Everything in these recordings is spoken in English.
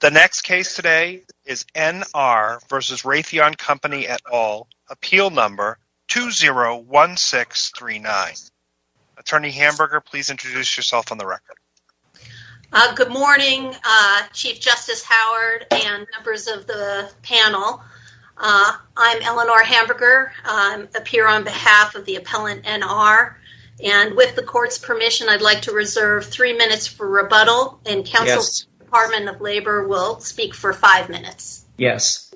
The next case today is N.R. v. Raytheon Company et al. Appeal number 201639. Attorney Hamburger, please introduce yourself on the record. Good morning, Chief Justice Howard and members of the panel. I'm Eleanor Hamburger, a peer on behalf of the appellant N.R. and with the court's permission, I'd like to reserve three minutes for rebuttal and counsel from the Department of Labor will speak for five minutes. Yes.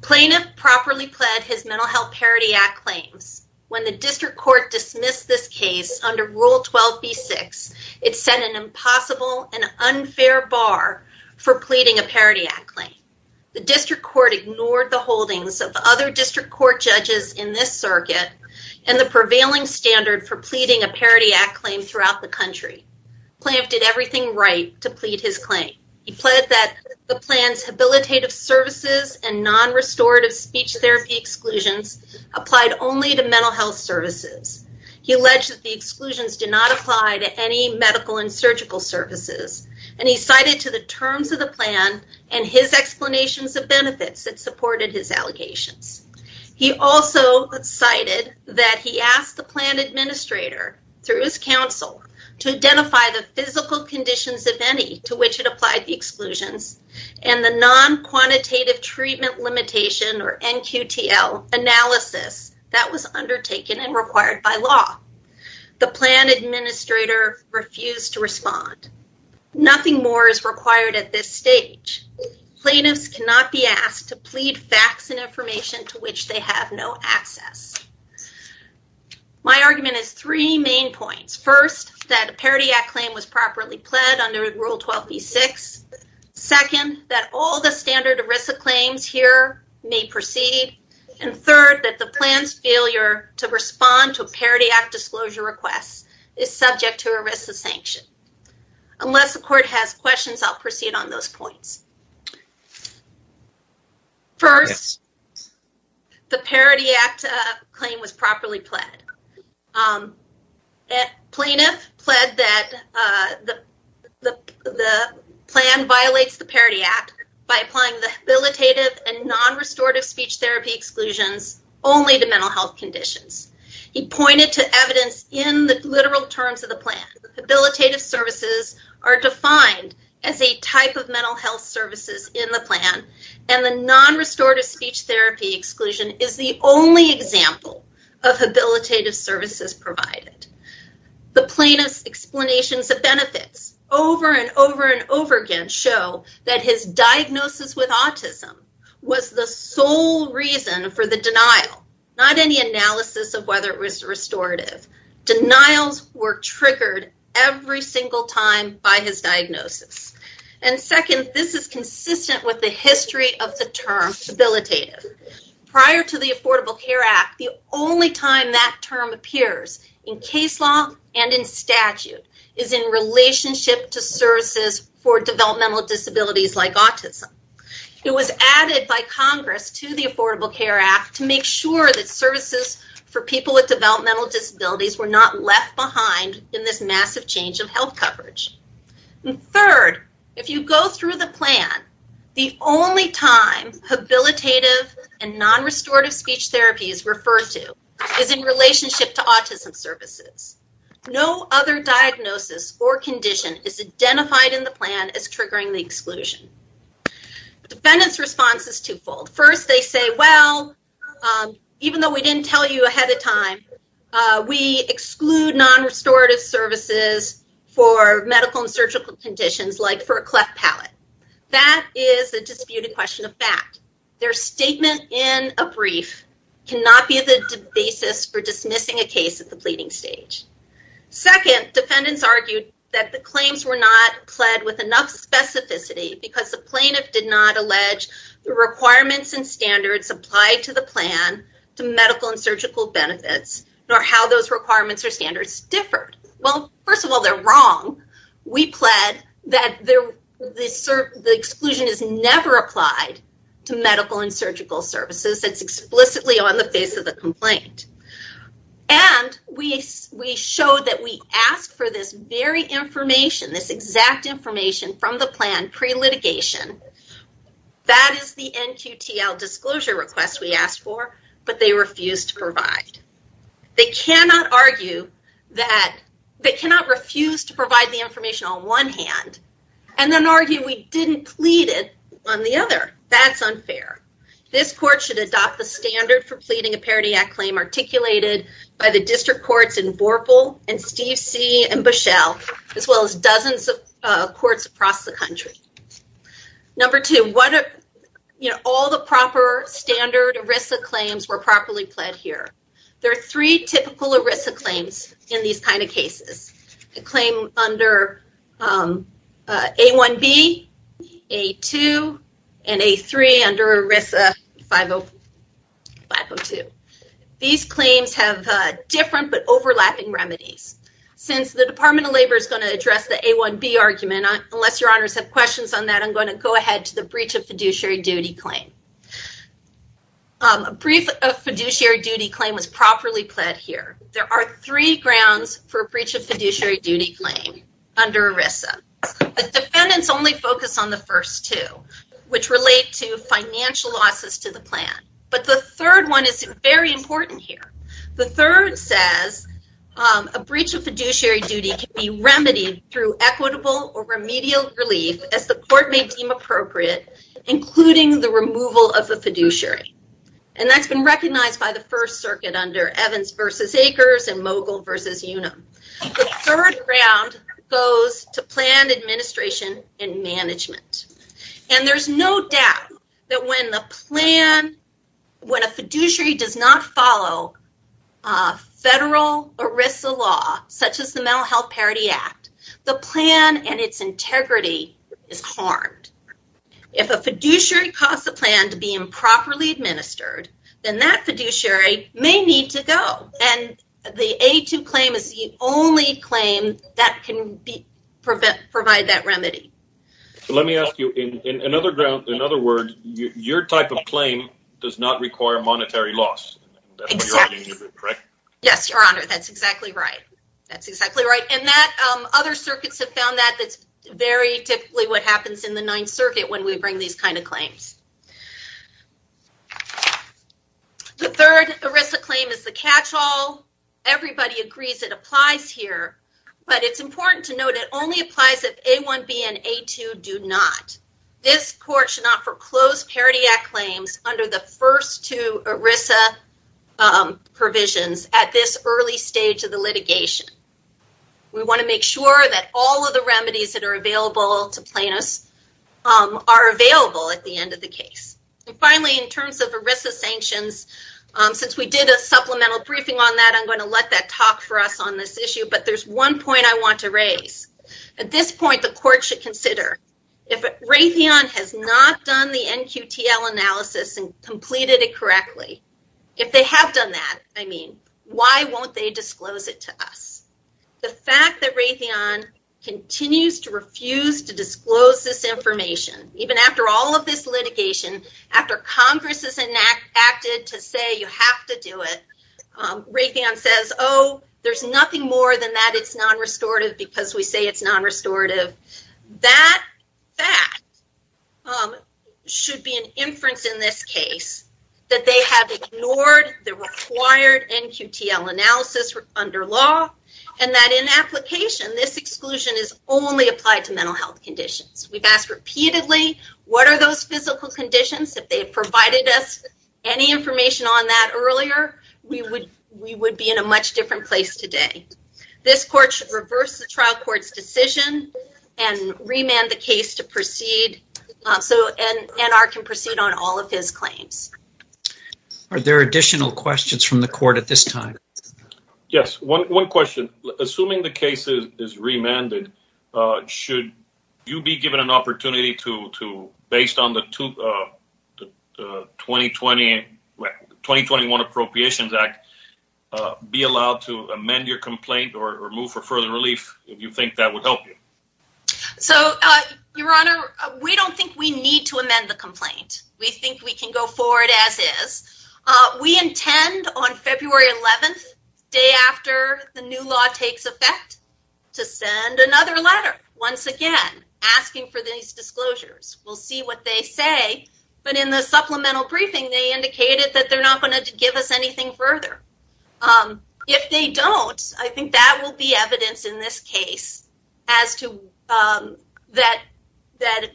Plaintiff properly pled his Mental Health Parity Act claims. When the District Court dismissed this case under Rule 12b-6, it set an impossible and unfair bar for pleading a Parity Act claim. The District Court ignored the holdings of other District Court judges in this circuit and the prevailing standard for pleading a Parity Act claim throughout the country. Plaintiff did everything right to plead his claim. He pled that the plan's habilitative services and non-restorative speech therapy exclusions applied only to mental health services. He alleged that the exclusions did not apply to any medical and surgical services and he cited to the terms of the plan and his explanations of benefits that supported his allegations. He also cited that he asked the plan administrator through his counsel to identify the physical conditions, if any, to which it applied the exclusions and the non-quantitative treatment limitation or NQTL analysis that was undertaken and required by law. The plan administrator refused to respond. Nothing more is required at this stage. Plaintiffs cannot be asked to plead facts and information to which they have no access. My argument is three main points. First, that a Parity Act claim was properly pled under Rule 12b-6. Second, that all the standard ERISA claims here may proceed. And third, that the plan's failure to respond to a Parity Act disclosure request is subject to ERISA sanction. Unless the court has questions, I'll proceed on those points. First, the Parity Act claim was properly pled. Plaintiff pled that the plan violates the Parity Act by applying the habilitative and non-restorative speech therapy exclusions only to mental health conditions. He pointed to evidence in the literal terms of the plan. Habilitative services are defined as a type of mental health services in the plan, and the non-restorative speech therapy exclusion is the only example of habilitative services provided. The plaintiff's explanations of benefits over and over and over again show that his diagnosis with autism was the sole reason for the denial, not any analysis of whether it was restorative. Denials were triggered every single time by his diagnosis. And second, this is consistent with the history of the term habilitative. Prior to the Affordable Care Act, the only time that term appears in case law and in statute is in relationship to services for developmental disabilities like autism. It was added by Congress to the Affordable Care Act to make sure that services for people with developmental disabilities were not left behind in this massive change of health coverage. And third, if you go through the plan, the only time habilitative and non-restorative speech therapy is referred to is in relationship to autism services. No other diagnosis or condition is identified in the plan as triggering the exclusion. The defendant's response is twofold. First, they say, well, even though we didn't tell you ahead of time, we exclude non-restorative services for medical and surgical conditions like for a cleft palate. That is a disputed question of fact. Their statement in a brief cannot be the basis for dismissing a case at the pleading stage. Second, defendants argued that the claims were not pled with enough specificity because the plaintiff did not allege the requirements and standards applied to the plan to medical and surgical benefits, nor how those requirements or standards differed. Well, first of all, they're wrong. We pled that the exclusion is never applied to medical and surgical services. It's explicitly on the face of the complaint. And we showed that we asked for this very information, this exact information from the plan pre-litigation. That is the NQTL disclosure request we asked for, but they refused to provide. They cannot argue that, they cannot refuse to provide the information on one hand and then argue we didn't plead it on the other. That's unfair. This court should adopt the standard for pleading a Parity Act claim articulated by the district courts in Borple and Steve C. and Bushell, as well as dozens of courts across the country. Number two, what, you know, all the standard ERISA claims were properly pled here. There are three typical ERISA claims in these kind of cases. A claim under A1B, A2, and A3 under ERISA 502. These claims have different but overlapping remedies. Since the Department of Labor is going to address the A1B argument, unless your honors have questions on that, I'm going to go ahead to the breach of fiduciary duty claim. A breach of fiduciary duty claim was properly pled here. There are three grounds for a breach of fiduciary duty claim under ERISA. The defendants only focus on the first two, which relate to financial losses to the plan, but the third one is very important here. The third says a breach of fiduciary duty can be remedied through equitable or remedial relief as the court may deem appropriate, including the removal of the fiduciary, and that's been recognized by the First Circuit under Evans v. Akers and Mogul v. Unum. The third ground goes to planned administration and management, and there's no doubt that when the plan, when a fiduciary does not follow federal ERISA law, such as the Mental Health Parity Act, the plan and its integrity is harmed. If a fiduciary caused the plan to be improperly administered, then that fiduciary may need to go, and the A2 claim is the only claim that can provide that remedy. Let me ask you, in another ground, in other words, your type of claim does not require monetary loss, correct? Yes, your honor, that's exactly right. That's exactly right, and that other circuits have found that that's very typically what happens in the Ninth Circuit when we bring these kind of claims. The third ERISA claim is the catch-all. Everybody agrees it applies here, but it's important to note it only applies if A1B and A2 do not. This court should not foreclose Parity Act claims under the first two ERISA provisions at this early stage of the litigation. We want to make sure that all of the remedies that are available to Planos are available at the end of the case. And finally, in terms of ERISA sanctions, since we did a supplemental briefing on that, I'm going to let that talk for us on this issue, but there's one point I want to raise. At this point, the court should consider if Raytheon has not done the NQTL analysis and completed it correctly. If they have done that, I mean, why won't they disclose it to us? The fact that Raytheon continues to refuse to disclose this information, even after all of this litigation, after Congress has acted to say you have to do it, Raytheon says, oh, there's nothing more than that. It's non-restorative because we say it's non-restorative. That should be an inference in this case that they have ignored the required NQTL analysis under law and that in application this exclusion is only applied to mental health conditions. We've asked repeatedly what are those physical conditions. If they provided us any information on that earlier, we would be in a much different place today. This court should reverse the trial court's decision and remand the case to proceed so NR can proceed on all of his claims. Are there additional questions from the court at this time? Yes, one question. Assuming the case is remanded, should you be given an opportunity to based on the 2021 Appropriations Act be allowed to amend your complaint or move for further relief? Do you think that would help you? Your Honor, we don't think we need to amend the complaint. We think we can go forward as is. We intend on February 11th, the day after the new law takes effect, to send another letter once again asking for these disclosures. We'll see what they say, but in the supplemental briefing they indicated that they're not going to give us anything further. If they don't, I think that will be evidence in this case as to that that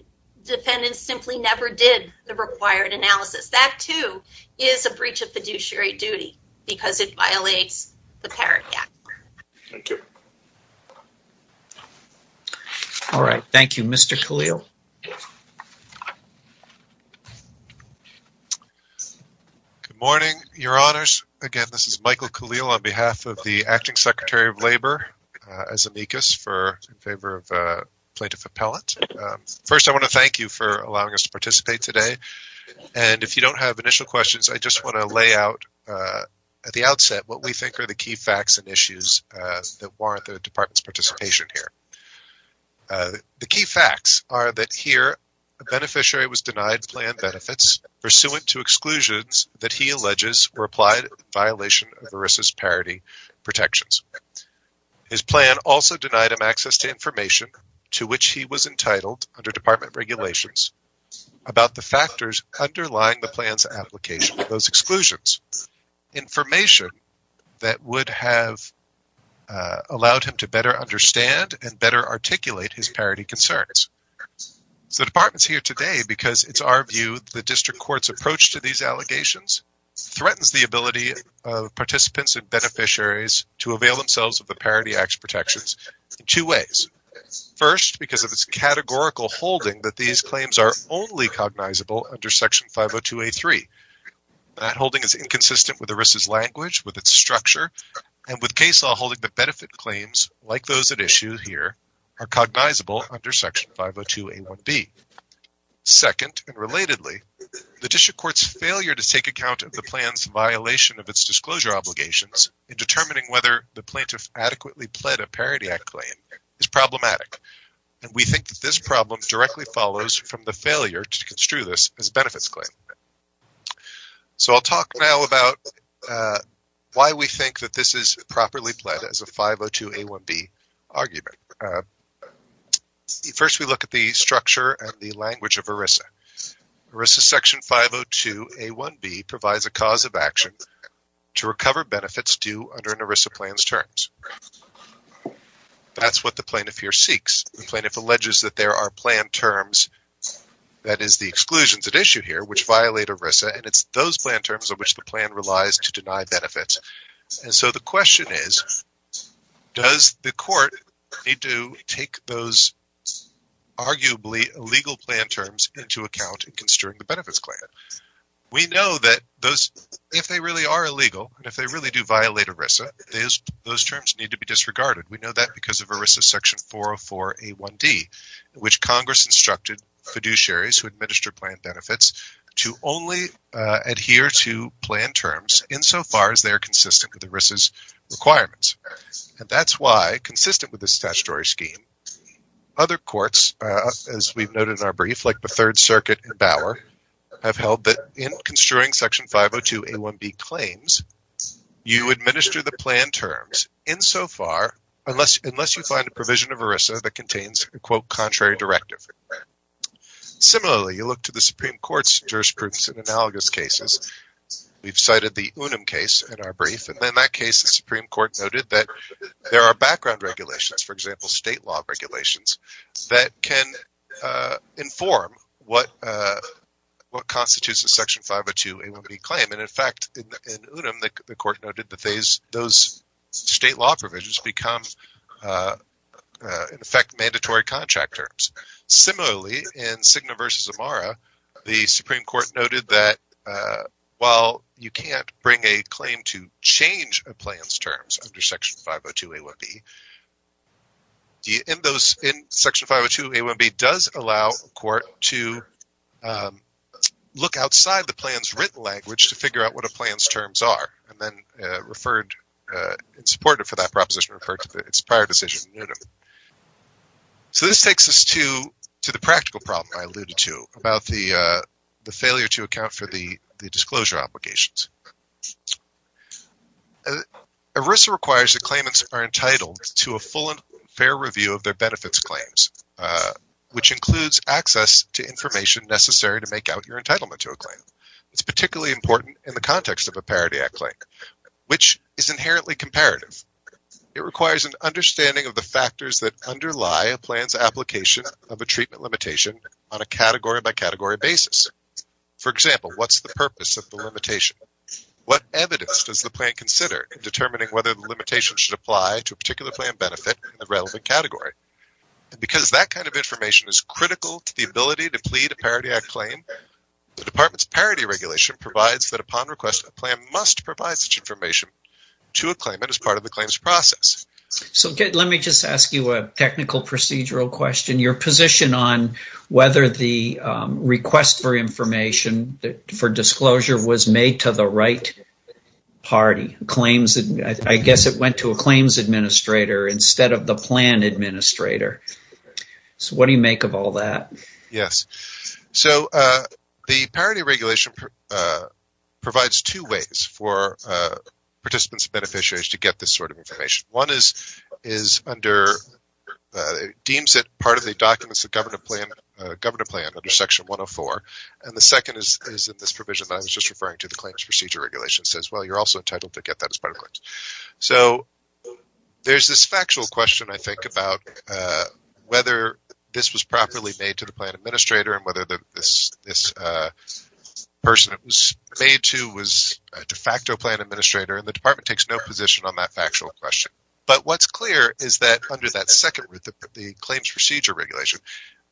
defendant simply never did the required analysis. That too is a breach of fiduciary duty because it violates the Parent Act. Thank you. All right, thank you Mr. Khalil. Good morning, Your Honors. Again, this is Michael Khalil on behalf of the Acting Secretary of Labor as amicus in favor of Plaintiff Appellant. First, I want to thank you for allowing us to participate today. If you don't have initial questions, I just want to lay out at the outset what we think are the key facts and issues that warrant the Department's participation here. The key facts are that here, a beneficiary was denied planned benefits pursuant to exclusions that he alleges were applied in violation of ERISA's parity protections. His plan also denied him access to information to which he was entitled under Department regulations about the factors underlying the plan's application of those exclusions. Information that would have allowed him to better understand and better articulate his parity concerns. The Department's here today because it's our view the District Court's approach to these participants and beneficiaries to avail themselves of the parity acts protections in two ways. First, because of its categorical holding that these claims are only cognizable under Section 502A3. That holding is inconsistent with ERISA's language, with its structure, and with case law holding the benefit claims like those at issue here are cognizable under Section 502A1B. Second, and relatedly, the District Court's failure to take account of the violation of its disclosure obligations in determining whether the plaintiff adequately pled a parity act claim is problematic. And we think that this problem directly follows from the failure to construe this as benefits claim. So I'll talk now about why we think that this is properly pled as a 502A1B argument. First, we look at the structure and the language of ERISA. ERISA Section 502A1B provides a cause of action to recover benefits due under an ERISA plan's terms. That's what the plaintiff here seeks. The plaintiff alleges that there are plan terms, that is the exclusions at issue here, which violate ERISA and it's those plan terms of which the plan relies to deny need to take those arguably illegal plan terms into account in construing the benefits claim. We know that those, if they really are illegal, and if they really do violate ERISA, those terms need to be disregarded. We know that because of ERISA Section 404A1D, which Congress instructed fiduciaries who administer plan benefits to only adhere to plan terms insofar as they are consistent with ERISA's requirements. And that's why, consistent with this statutory scheme, other courts, as we've noted in our brief, like the Third Circuit and Bauer, have held that in construing Section 502A1B claims, you administer the plan terms insofar unless you find a provision of ERISA that contains a, quote, contrary directive. Similarly, you look to the Supreme Court's jurisprudence in analogous cases. We've cited the Unum case in our brief, and in that case, the Supreme Court noted that there are background regulations, for example, state law regulations, that can inform what constitutes a Section 502A1B claim. And in fact, in Unum, the court noted that those state law provisions become, in effect, mandatory contract terms. Similarly, in Cigna v. Amara, the while you can't bring a claim to change a plan's terms under Section 502A1B, in those, in Section 502A1B does allow a court to look outside the plan's written language to figure out what a plan's terms are, and then referred, and supported for that proposition, referred to its prior decision in Unum. So this takes us to the practical problem I alluded to about the failure to account for the disclosure obligations. ERISA requires that claimants are entitled to a full and fair review of their benefits claims, which includes access to information necessary to make out your entitlement to a claim. It's particularly important in the context of a Parity Act claim, which is inherently comparative. It requires an understanding of the factors that underlie a plan's application of a treatment limitation on a purpose of the limitation. What evidence does the plan consider in determining whether the limitation should apply to a particular plan benefit in the relevant category? Because that kind of information is critical to the ability to plead a Parity Act claim, the Department's Parity Regulation provides that upon request a plan must provide such information to a claimant as part of the claim's process. So let me just ask you a technical procedural question. Your position on whether the request for information for disclosure was made to the right party? I guess it went to a claims administrator instead of the plan administrator. So what do you make of all that? Yes, so the Parity Regulation provides two ways for participants and beneficiaries to get this sort of information. One deems it part of the documents of the Section 104, and the second is in this provision that I was just referring to, the Claims Procedure Regulation says, well, you're also entitled to get that as part of the claims. So there's this factual question, I think, about whether this was properly made to the plan administrator and whether this person it was made to was a de facto plan administrator, and the Department takes no position on that factual question. But what's clear is that under that second route, the Claims Procedure Regulation,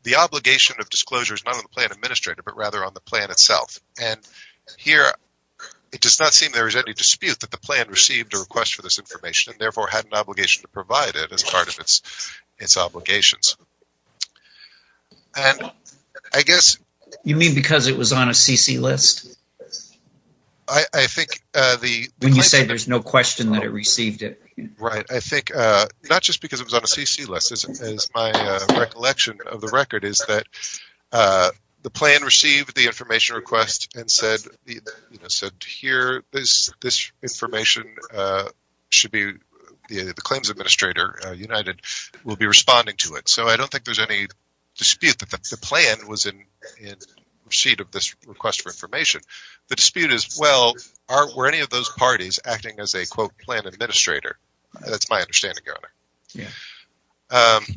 the obligation of disclosure is not on the plan administrator but rather on the plan itself. And here it does not seem there is any dispute that the plan received a request for this information and therefore had an obligation to provide it as part of its obligations. And I guess... You mean because it was on a CC list? I think the... When you say there's no question that it received it. Right, I think not just because it was on a CC list. As my recollection of the record is that the plan received the information request and said, you know, said here this information should be... The Claims Administrator, United, will be responding to it. So I don't think there's any dispute that the plan was in receipt of this request for information. The dispute is, well, were any of those parties acting as a quote plan administrator? That's my understanding, Your Honor.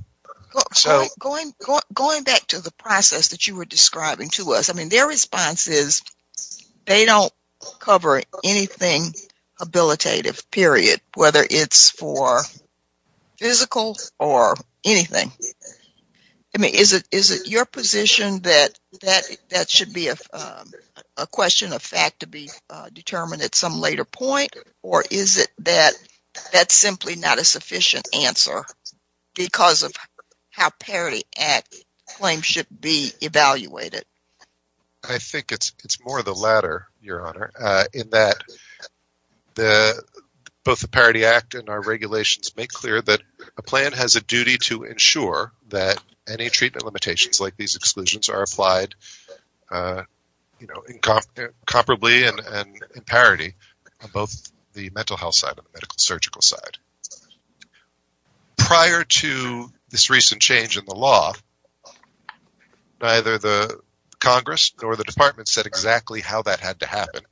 So going back to the process that you were describing to us, I mean their response is they don't cover anything habilitative, period. Whether it's for physical or anything. I mean is it your position that that should be a question of fact to be That's simply not a sufficient answer because of how Parity Act claims should be evaluated. I think it's more the latter, Your Honor, in that both the Parity Act and our regulations make clear that a plan has a duty to ensure that any treatment limitations like these exclusions are applied you know, comparably and in parity on both the mental health and the medical surgical side. Prior to this recent change in the law, neither the Congress nor the Department said exactly how that had to happen.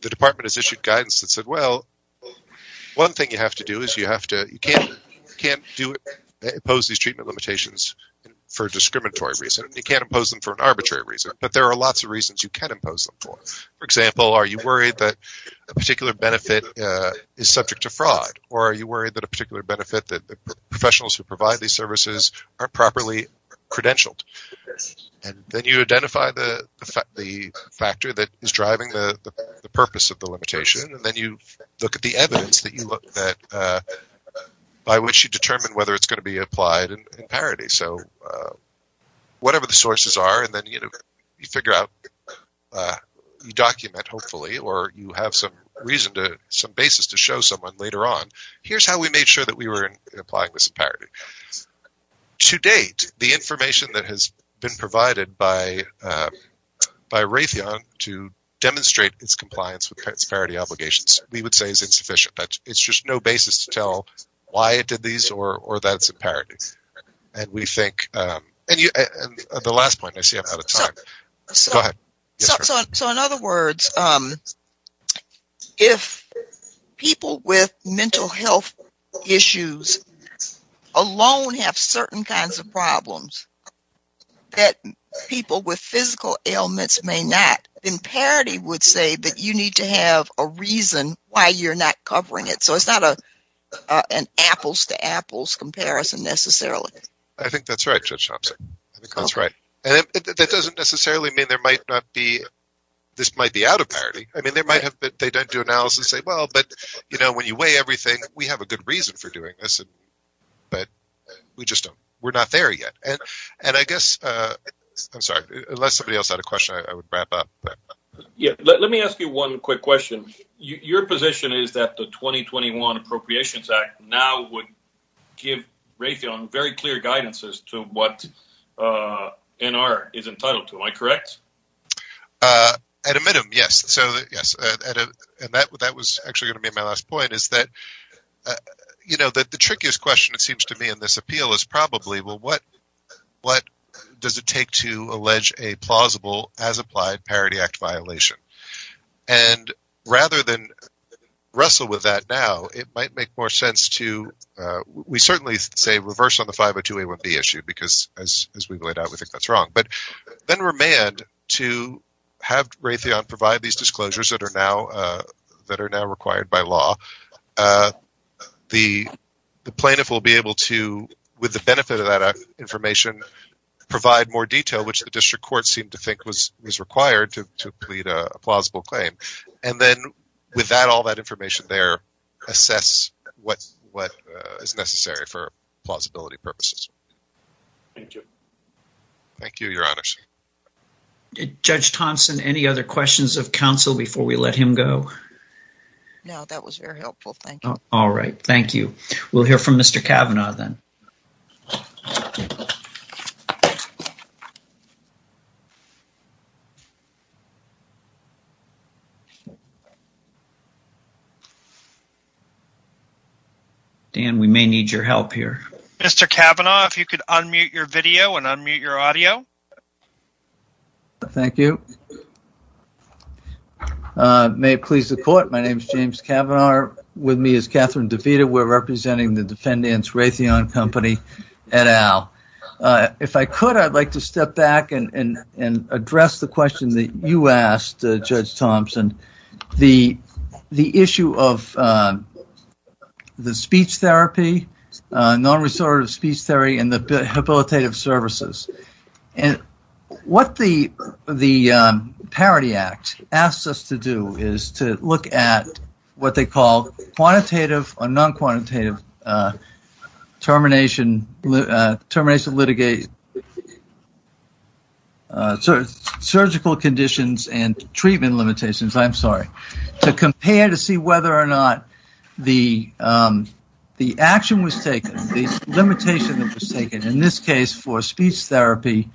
The Department has issued guidance that said, well, one thing you have to do is you have to... You can't impose these treatment limitations for a discriminatory reason. You can't impose them for an arbitrary reason, but there are lots of reasons you can impose them for. For example, are you worried that a is subject to fraud or are you worried that a particular benefit that professionals who provide these services are properly credentialed? And then you identify the factor that is driving the purpose of the limitation and then you look at the evidence that you look at by which you determine whether it's going to be applied in parity. So whatever the sources are and then you know you figure out you document hopefully or you have some basis to show someone later on, here's how we made sure that we were applying this in parity. To date, the information that has been provided by Raytheon to demonstrate its compliance with its parity obligations we would say is insufficient. It's just no basis to tell why it did these or that it's in parity. And we think... And the last point, I see I'm out of time. Go ahead. So in other words, if people with mental health issues alone have certain kinds of problems that people with physical ailments may not, then parity would say that you need to have a reason why you're not covering it. So it's not an apples-to-apples comparison necessarily. I think that's right, Judge Chomsky. I think that's right. And that doesn't necessarily mean there might not be... This might be out of parity. I mean there might have been... They don't do analysis and say, well, but you know when you weigh everything, we have a good reason for doing this. But we just don't... We're not there yet. And I guess... I'm sorry, unless somebody else had a question, I would wrap up. Yeah, let me ask you one quick question. Your position is that the 2021 Appropriations Act now would give Raytheon very clear guidance as to what NR is entitled to. Am I correct? I admit them, yes. So yes. And that was actually going to be my last point, is that the trickiest question, it seems to me, in this appeal is probably, well, what does it take to allege a plausible, as applied, Parity Act violation? And rather than wrestle with that now, it might make more sense to... We certainly say reverse on the 502A1B issue, because as we've laid out, we think that's wrong. But then remand to have Raytheon provide these disclosures that are now required by law. The plaintiff will be able to, with the benefit of that information, provide more detail, which the district court seemed to think was required to plead a plausible claim. And then with that, all that information there, assess what is necessary for plausibility purposes. Thank you. Thank you, Your Honors. Judge Thompson, any other questions of counsel before we let him go? No, that was very helpful. Thank you. All right. Thank you. We'll hear from Mr. Kavanaugh then. Dan, we may need your help here. Mr. Kavanaugh, if you could unmute your video and unmute your audio. Thank you. May it please the court, my name is James Kavanaugh. With me is Catherine DeVita. We're representing the defendants Raytheon Company et al. If I could, I'd like to step back and address the question that you asked, Judge Thompson. The issue of the speech therapy, non-restorative speech therapy, and the habilitative services. And what the Parity Act asks us to do is to look at what they call quantitative or non-quantitative termination, termination, litigation, surgical conditions and treatment limitations, I'm sorry, to compare to see whether or not the action was taken, the limitation that was taken, in this case for speech therapy,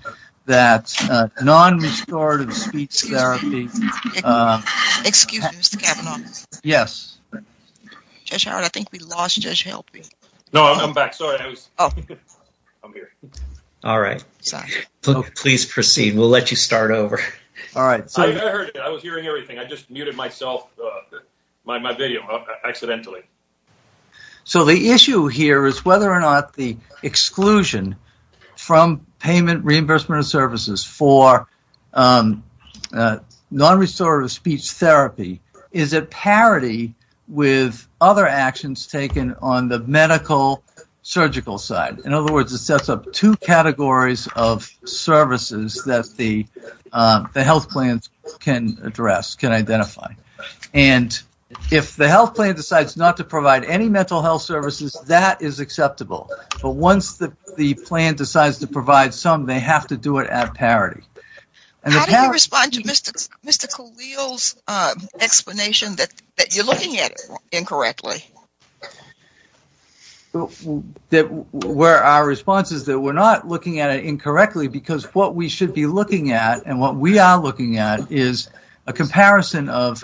that non-restorative speech therapy. Excuse me, Mr. Kavanaugh. Yes. Judge Howard, I think we lost Judge Helping. No, I'm back. Sorry. Oh, I'm here. All right. Sorry. Please proceed. We'll let you start over. All right. I heard it. I was hearing everything. I just muted myself, my video, accidentally. So the issue here is whether or not the exclusion from payment reimbursement of services for non-restorative speech therapy is a parity with other actions taken on the medical-surgical side. In other words, it sets up two categories of services that the health plans can address, can identify. And if the health plan decides not to provide any mental health services, that is acceptable. But once the plan decides to provide some, they have to do it at parity. How do you respond to Mr. Khalil's explanation that you're looking at it incorrectly? Our response is that we're not looking at it incorrectly because what we should be looking at and what we are looking at is a comparison of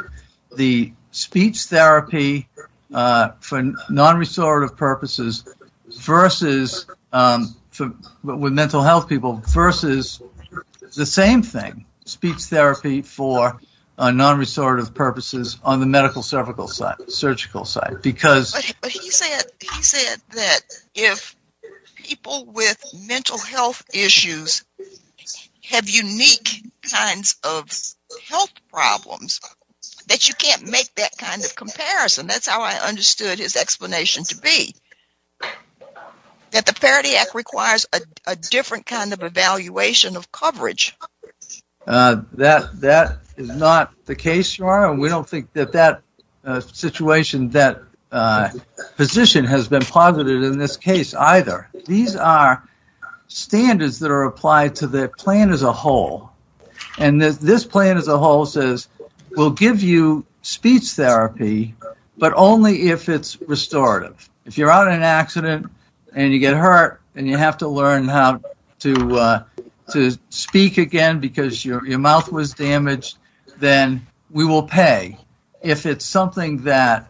the speech therapy for non-restorative purposes versus with mental health people versus the same thing, speech therapy for non-restorative purposes on the medical-surgical side. But he said that if people with mental health issues have unique kinds of health problems, that you can't make that kind of comparison. That's how I understood his explanation to be. That the Parity Act requires a different kind of evaluation of coverage. That is not the case. We don't think that that situation, that position has been positive in this case either. These are standards that are applied to the plan as a whole. And this plan as a whole says we'll give you speech therapy but only if it's restorative. If you're out in an accident and you get hurt and you have to learn how to speak again because your mouth was damaged, then we will pay. If it's something that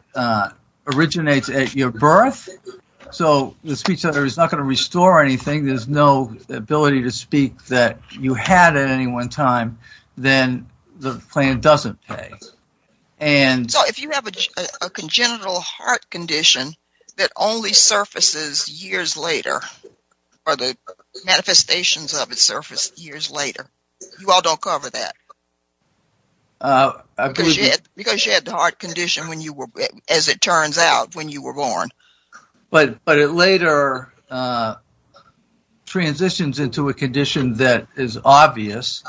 originates at your birth, so the speech therapy is not going to restore anything, there's no ability to speak that you had at any one time, then the plan doesn't pay. So if you have a congenital heart condition that only surfaces years later, or the manifestations of it surface years later, you all don't cover that. Because you had the heart condition when you were, as it turns out, when you were born. But it later transitions into a condition that is obvious.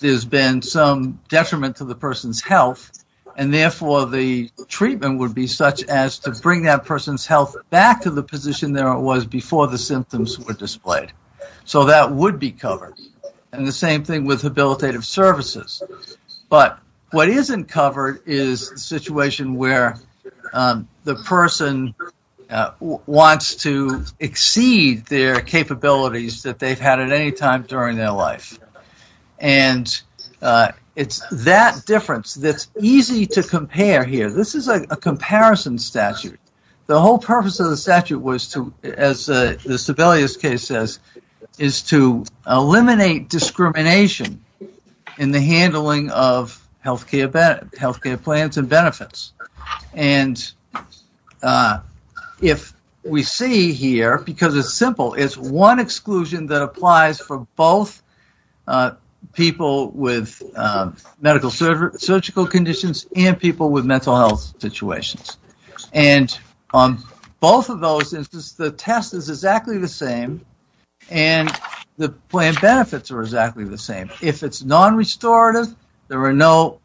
There's been some detriment to the person's health and therefore the treatment would be such as to bring that person's health back to the position there it was before the symptoms were displayed. So that would be covered. And the same thing with habilitative services. But what isn't covered is the situation where the person wants to exceed their capabilities that they've had at any time during their life. And it's that difference that's easy to compare here. This is a comparison statute. The whole purpose of the statute was to, as the Sebelius case says, is to eliminate discrimination in the handling of health care plans and benefits. And if we see here, because it's simple, it's one exclusion that applies for both people with medical surgical conditions and people with mental health situations. And on both of those instances, the test is exactly the same and the plan benefits are exactly the same. If it's non-restorative, there's no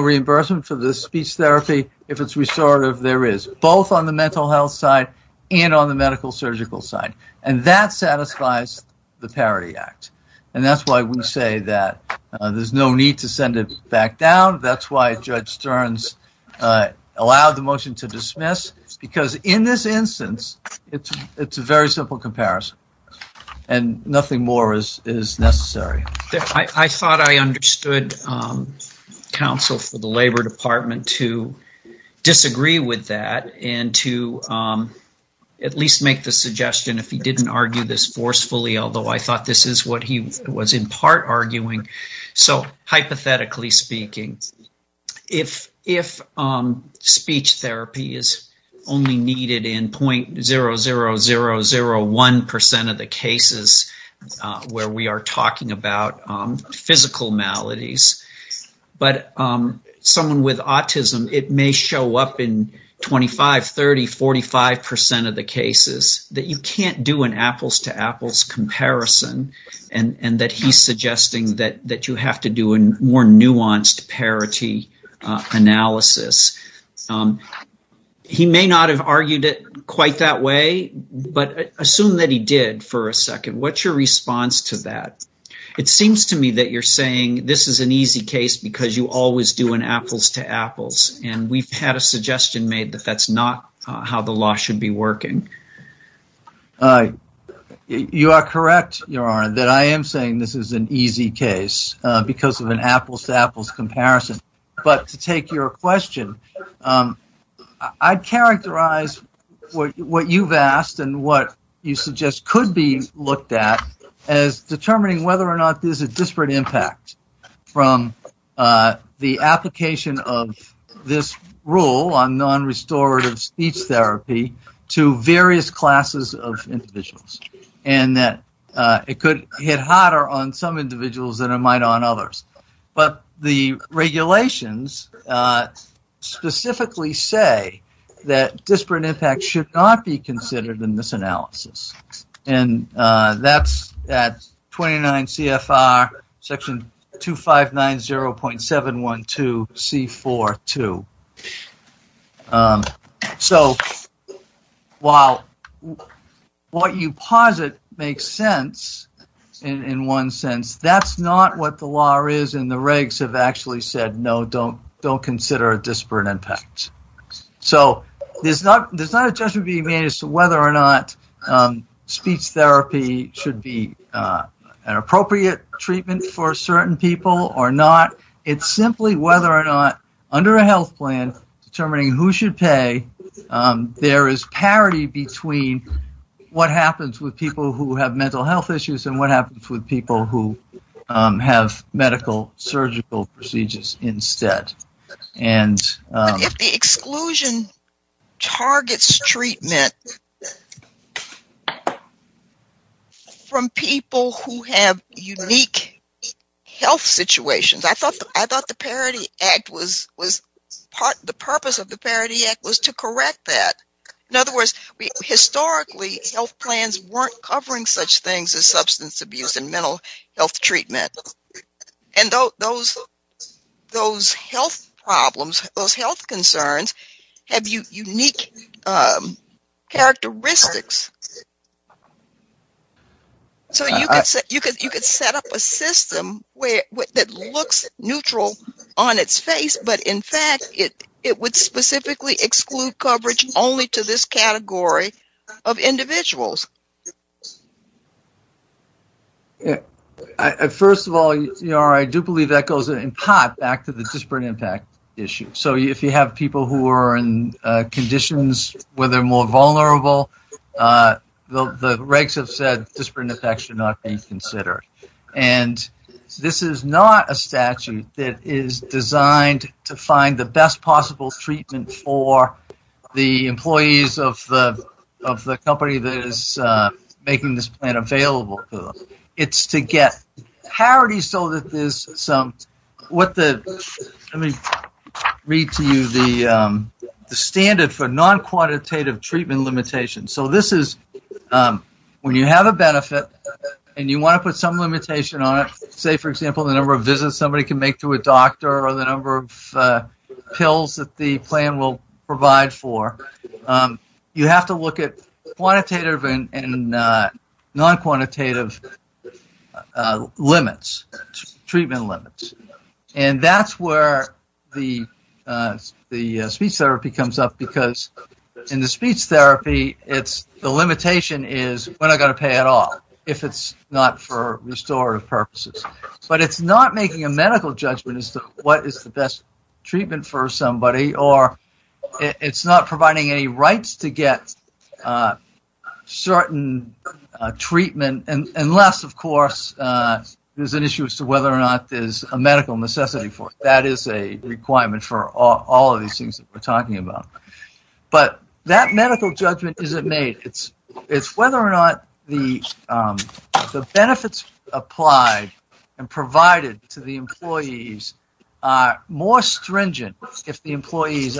reimbursement for the speech therapy. If it's restorative, there is, both on the mental health side and on the medical surgical side. And that satisfies the Parity Act. And that's why we say that there's no need to send it back down. That's why Judge Stearns allowed the motion to dismiss. Because in this instance, it's a very simple comparison and nothing more is necessary. I thought I understood counsel for the Labor Department to disagree with that and to at least make the suggestion if he argued this forcefully, although I thought this is what he was in part arguing. So hypothetically speaking, if speech therapy is only needed in 0.00001% of the cases where we are talking about physical maladies, but someone with autism, it may show up in 25, 30, 45% of the cases that you can't do an apples-to-apples comparison. And that he's suggesting that you have to do a more nuanced parity analysis. He may not have argued it quite that way, but assume that he did for a second. What's your response to that? It seems to me that you're saying this is an easy case because you always do an apples-to-apples. And we've had a suggestion made that that's not how the law should be working. You are correct, Your Honor, that I am saying this is an easy case because of an apples-to-apples comparison. But to take your question, I'd characterize what you've asked and what you suggest could be looked at as determining whether or not there's a disparate impact from the application of this rule on non-restorative speech therapy to various classes of individuals. And that it could hit harder on some individuals than it might on others. But the regulations specifically say that disparate impact should not be considered in this analysis. And that's at 29 CFR section 2590.712C4.2. So, while what you posit makes sense in one sense, that's not what the law is and the regs have actually said, no, don't consider a disparate impact. So, there's not a judgment being made as to whether or not speech therapy should be an appropriate treatment for certain people or not. It's simply whether or not, under a health plan, determining who should pay, there is parity between what happens with people who have mental health issues and what happens with people who have medical, surgical procedures instead. If the exclusion targets treatment from people who have unique health situations, I thought the purpose of the Parity Act was to correct that. In other words, historically, health plans weren't covering such things as substance abuse and mental health treatment. And those health problems, those health concerns, have unique characteristics. So, you could set up a system that looks neutral on its face, but in fact, it would specifically exclude coverage only to this category of people. First of all, I do believe that goes in part back to the disparate impact issue. So, if you have people who are in conditions where they are more vulnerable, the regs have said disparate impact should not be considered. This is not a statute that is designed to find the best possible treatment for the employees of the company that is making this plan available. It's to get parity. Let me read to you the standard for non-quantitative treatment limitations. So, when you have a benefit and you want to put some limitation on it, say, for example, the number of visits somebody can make to a doctor or the plan will provide for, you have to look at quantitative and non-quantitative limits, treatment limits. That's where the speech therapy comes up because in the speech therapy, the limitation is, when am I going to pay it off if it's not for restorative purposes? But it's not making a medical judgment as to what is the best treatment for it's not providing any rights to get certain treatment unless, of course, there's an issue as to whether or not there's a medical necessity for it. That is a requirement for all of these things that we're talking about. But that medical judgment isn't made. It's whether or not the benefits applied and provided to the employees are more stringent if the employees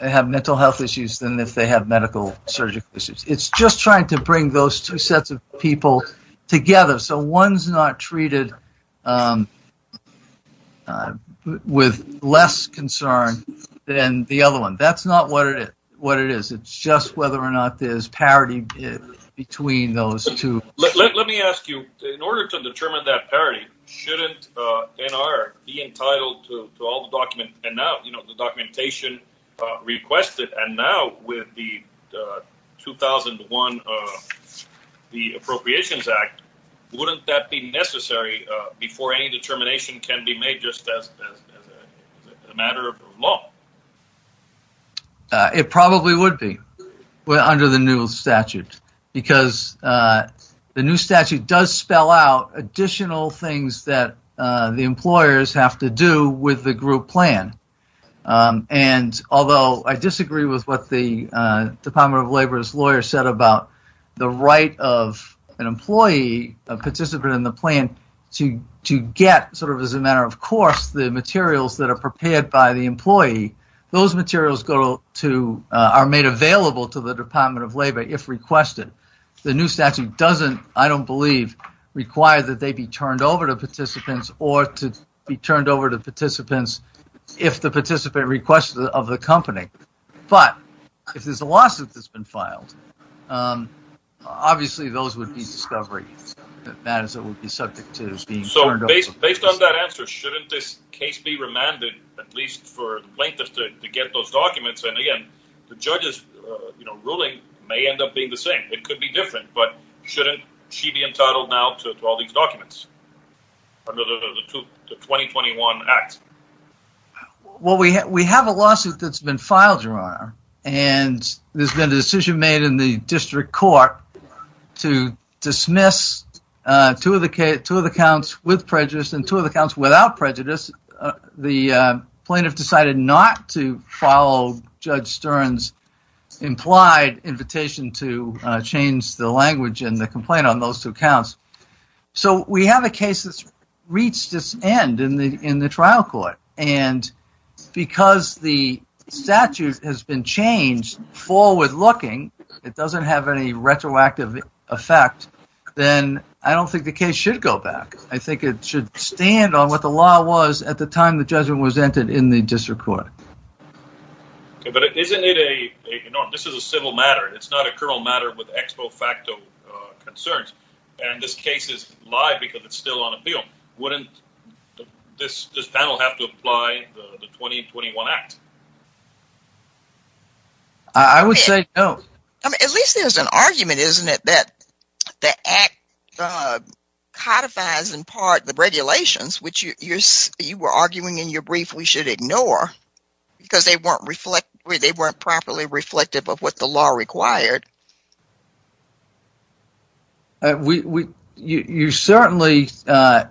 have mental health issues than if they have medical surgical issues. It's just trying to bring those two sets of people together. So, one's not treated with less concern than the other one. That's not what it is. It's just whether or not there's parity between those two. Let me ask you, in order to determine that parity, shouldn't NR be entitled to all the documentation requested? And now with the 2001 Appropriations Act, wouldn't that be necessary before any determination can be made just as a matter of law? It probably would be under the new statute because the new statute does spell out additional things that the employers have to do with the group plan. Although I disagree with what the Department of Labor's lawyer said about the right of an employee, a participant in the plan, to get, as a matter of course, the materials that are prepared by the employee. Those materials are made available to the Department of Labor if requested. The new statute doesn't, I don't believe, require that they be turned over to participants or to be turned over to participants if the participant requests it of the company. But if there's a lawsuit that's been filed, obviously those would be discovery matters that would be subject to being turned over. Based on that answer, shouldn't this case be remanded at least for the plaintiff to get those documents? Again, the judge's ruling may end up being the same. It could be different. But shouldn't she be entitled now to all these documents under the 2021 Act? Well, we have a lawsuit that's been filed, Gerard, and there's been a decision made in the district court to dismiss two of the counts with prejudice and two of the counts without prejudice. The plaintiff decided not to follow Judge Stern's implied invitation to change the language in the complaint on those two counts. So we have a case that's reached its end in the trial court. And because the statute has been changed forward-looking, it doesn't have any retroactive effect, then I don't think the case should go back. I think it should stand on what the law was at the time the judgment was entered in the district court. But isn't it a- this is a civil matter. It's not a criminal matter with ex po facto concerns. And this case is live because it's still on appeal. Wouldn't this panel have to apply the 2021 Act? I would say no. At least there's an argument, isn't it, that the Act codifies, in part, the regulations, which you were arguing in your brief we should ignore because they weren't properly reflective of what the law required. We- you certainly- and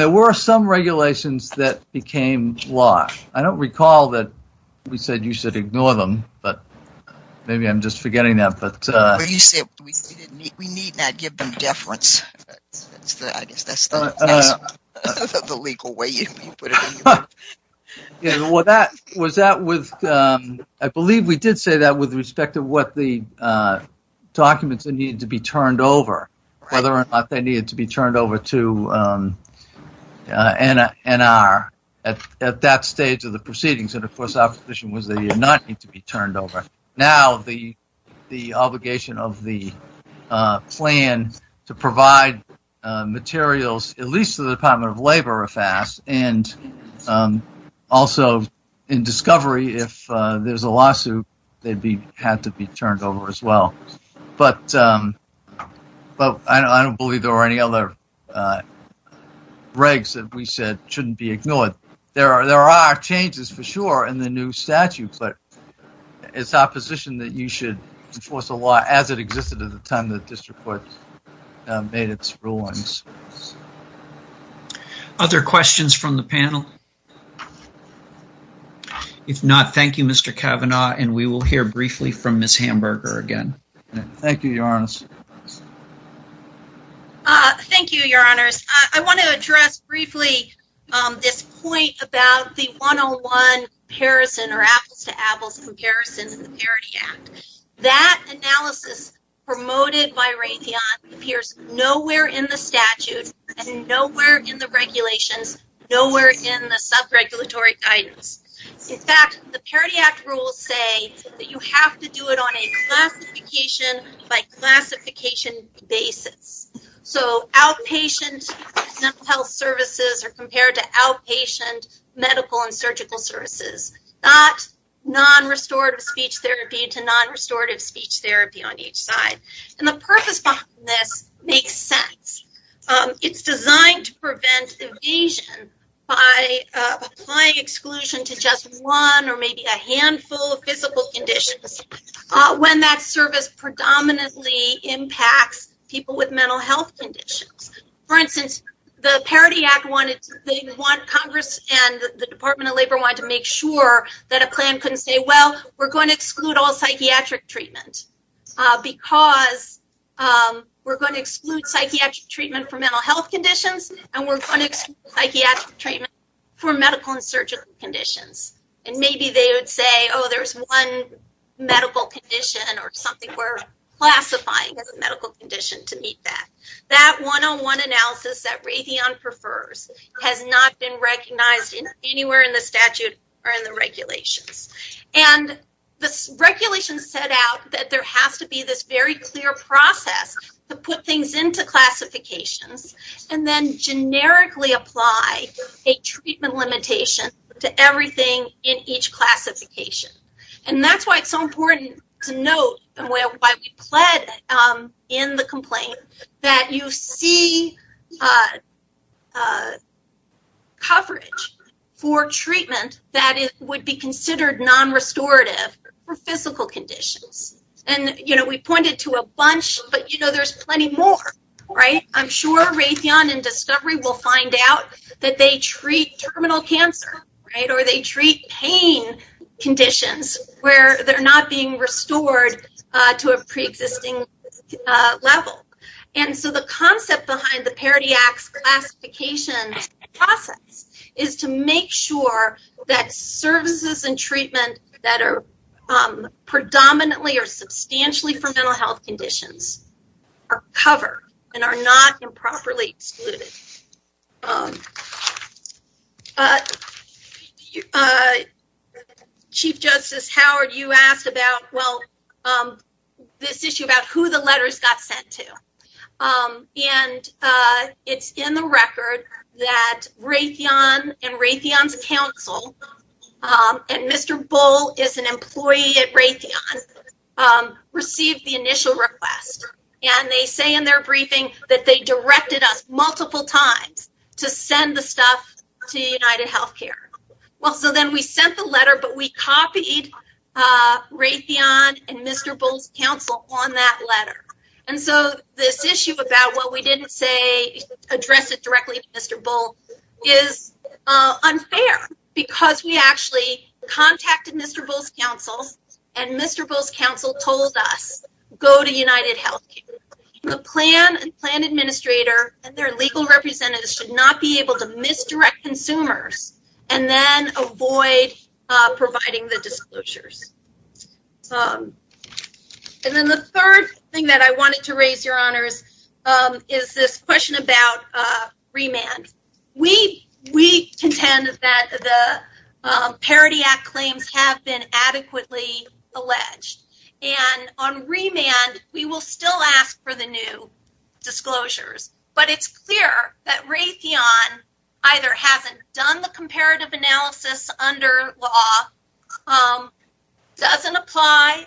there were some regulations that became law. I don't recall that we said you should ignore them. But maybe I'm just forgetting that. But you said we need not give them deference. I guess that's the legal way you put it. Yeah, well, that- was that with- I believe we did say that with respect to what the documents that needed to be turned over, whether or not they needed to be turned over to N.R. at that stage of the proceedings. And, of course, our position was that they did not need to be turned over. Now the obligation of the plan to provide materials, at least to the Department of Labor, if asked, and also in discovery, if there's a lawsuit, they'd be- had to be turned over as well. But I don't believe there were any other regs that we said shouldn't be ignored. There are changes for sure in the new statute, but it's our position that you should enforce the law as it existed at the time the district court made its rulings. Other questions from the panel? If not, thank you, Mr. Kavanaugh, and we will hear briefly from Ms. Hamburger again. Thank you, Your Honors. Thank you, Your Honors. I want to address briefly this point about the one-on-one comparison or apples-to-apples comparison to the Parity Act. That analysis promoted by Raytheon appears nowhere in the statute and nowhere in the regulations, nowhere in the sub-regulatory guidance. In fact, the Parity Act rules say that you have to do it on a classification-by-classification basis. So outpatient mental health services are compared to outpatient medical and surgical services, not non-restorative speech therapy to non-restorative speech therapy on each side. And the purpose behind this makes sense. It's designed to prevent evasion by applying exclusion to just one or maybe a handful of physical conditions when that service predominantly impacts people with mental health conditions. For instance, the Parity Act wanted—Congress and the Department of Labor wanted to make sure that a plan couldn't say, well, we're going to exclude all psychiatric treatment because we're going to exclude psychiatric treatment for mental health conditions, and we're going to exclude psychiatric treatment for medical and surgical conditions. And maybe they would say, oh, there's one medical condition or something we're classifying as a medical condition to meet that. That one-on-one analysis that Raytheon prefers has not been recognized anywhere in the statute or in the regulations. And the regulations set out that there has to be this very clear process to put things into classifications and then generically apply a treatment limitation to everything in each classification. And that's why it's so important to note, and why we pled in the complaint, that you see coverage for treatment that would be considered non-restorative for physical conditions. And, you know, we pointed to a bunch, but, you know, there's plenty more, right? I'm sure Raytheon and Discovery will find out that they treat terminal cancer, right, or they treat pain conditions where they're not being restored to a preexisting level. And so the concept behind the Parity Act's classification process is to make sure that services and treatment that are predominantly or substantially for mental health conditions are covered and are not improperly excluded. Chief Justice Howard, you asked about, well, this issue about who the letters got sent to, and it's in the record that Raytheon and Raytheon's counsel, and Mr. Bull is an employee at Raytheon, received the initial request. And they say in their briefing that they directed us multiple times to send the stuff to United Health Care. Well, so then we sent the letter, but we copied Raytheon and Mr. Bull's counsel on that letter. And so this issue about what we didn't say, address it directly to Mr. Bull, is unfair because we actually contacted Mr. Bull's counsel, and Mr. Bull's counsel told us, go to United Health Care. The plan and plan administrator and their legal representatives should not be able to misdirect consumers and then avoid providing the disclosures. And then the third thing that I wanted to raise, Your Honors, is this question about remand. We contend that the Parity Act claims have been adequately alleged. And on remand, we will still ask for the new disclosures. But it's clear that Raytheon either hasn't done the comparative analysis under law, doesn't apply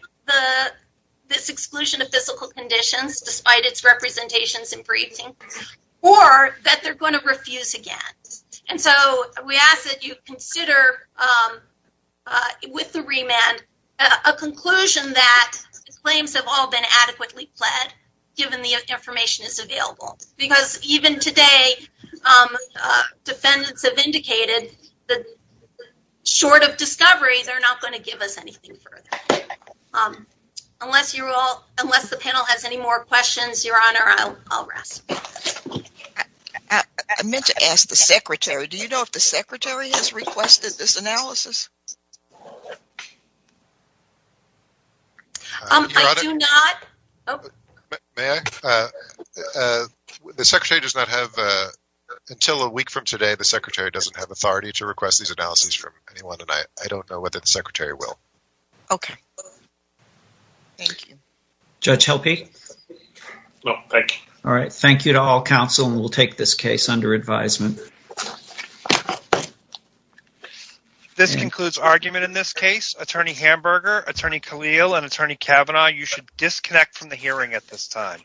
this exclusion of physical conditions, despite its representations in briefing, or that they're going to refuse again. And so we ask that you consider with the remand a conclusion that claims have all been adequately pled, given the information is available. Because even today, defendants have indicated that short of discovery, they're not going to give us anything further. Unless the panel has any more questions, Your Honor, I'll rest. I meant to ask the Secretary. Do you know if the Secretary has requested this analysis? I do not. The Secretary does not have, until a week from today, the Secretary doesn't have authority to request these analyses from anyone, and I don't know whether the Secretary will. Okay. Thank you. Judge Helpe? No, thank you. All right. Thank you to all counsel, and we'll take this case under advisement. This concludes argument in this case. Attorney Hamburger, Attorney Khalil, and Attorney Kavanaugh, you should disconnect from the hearing at this time.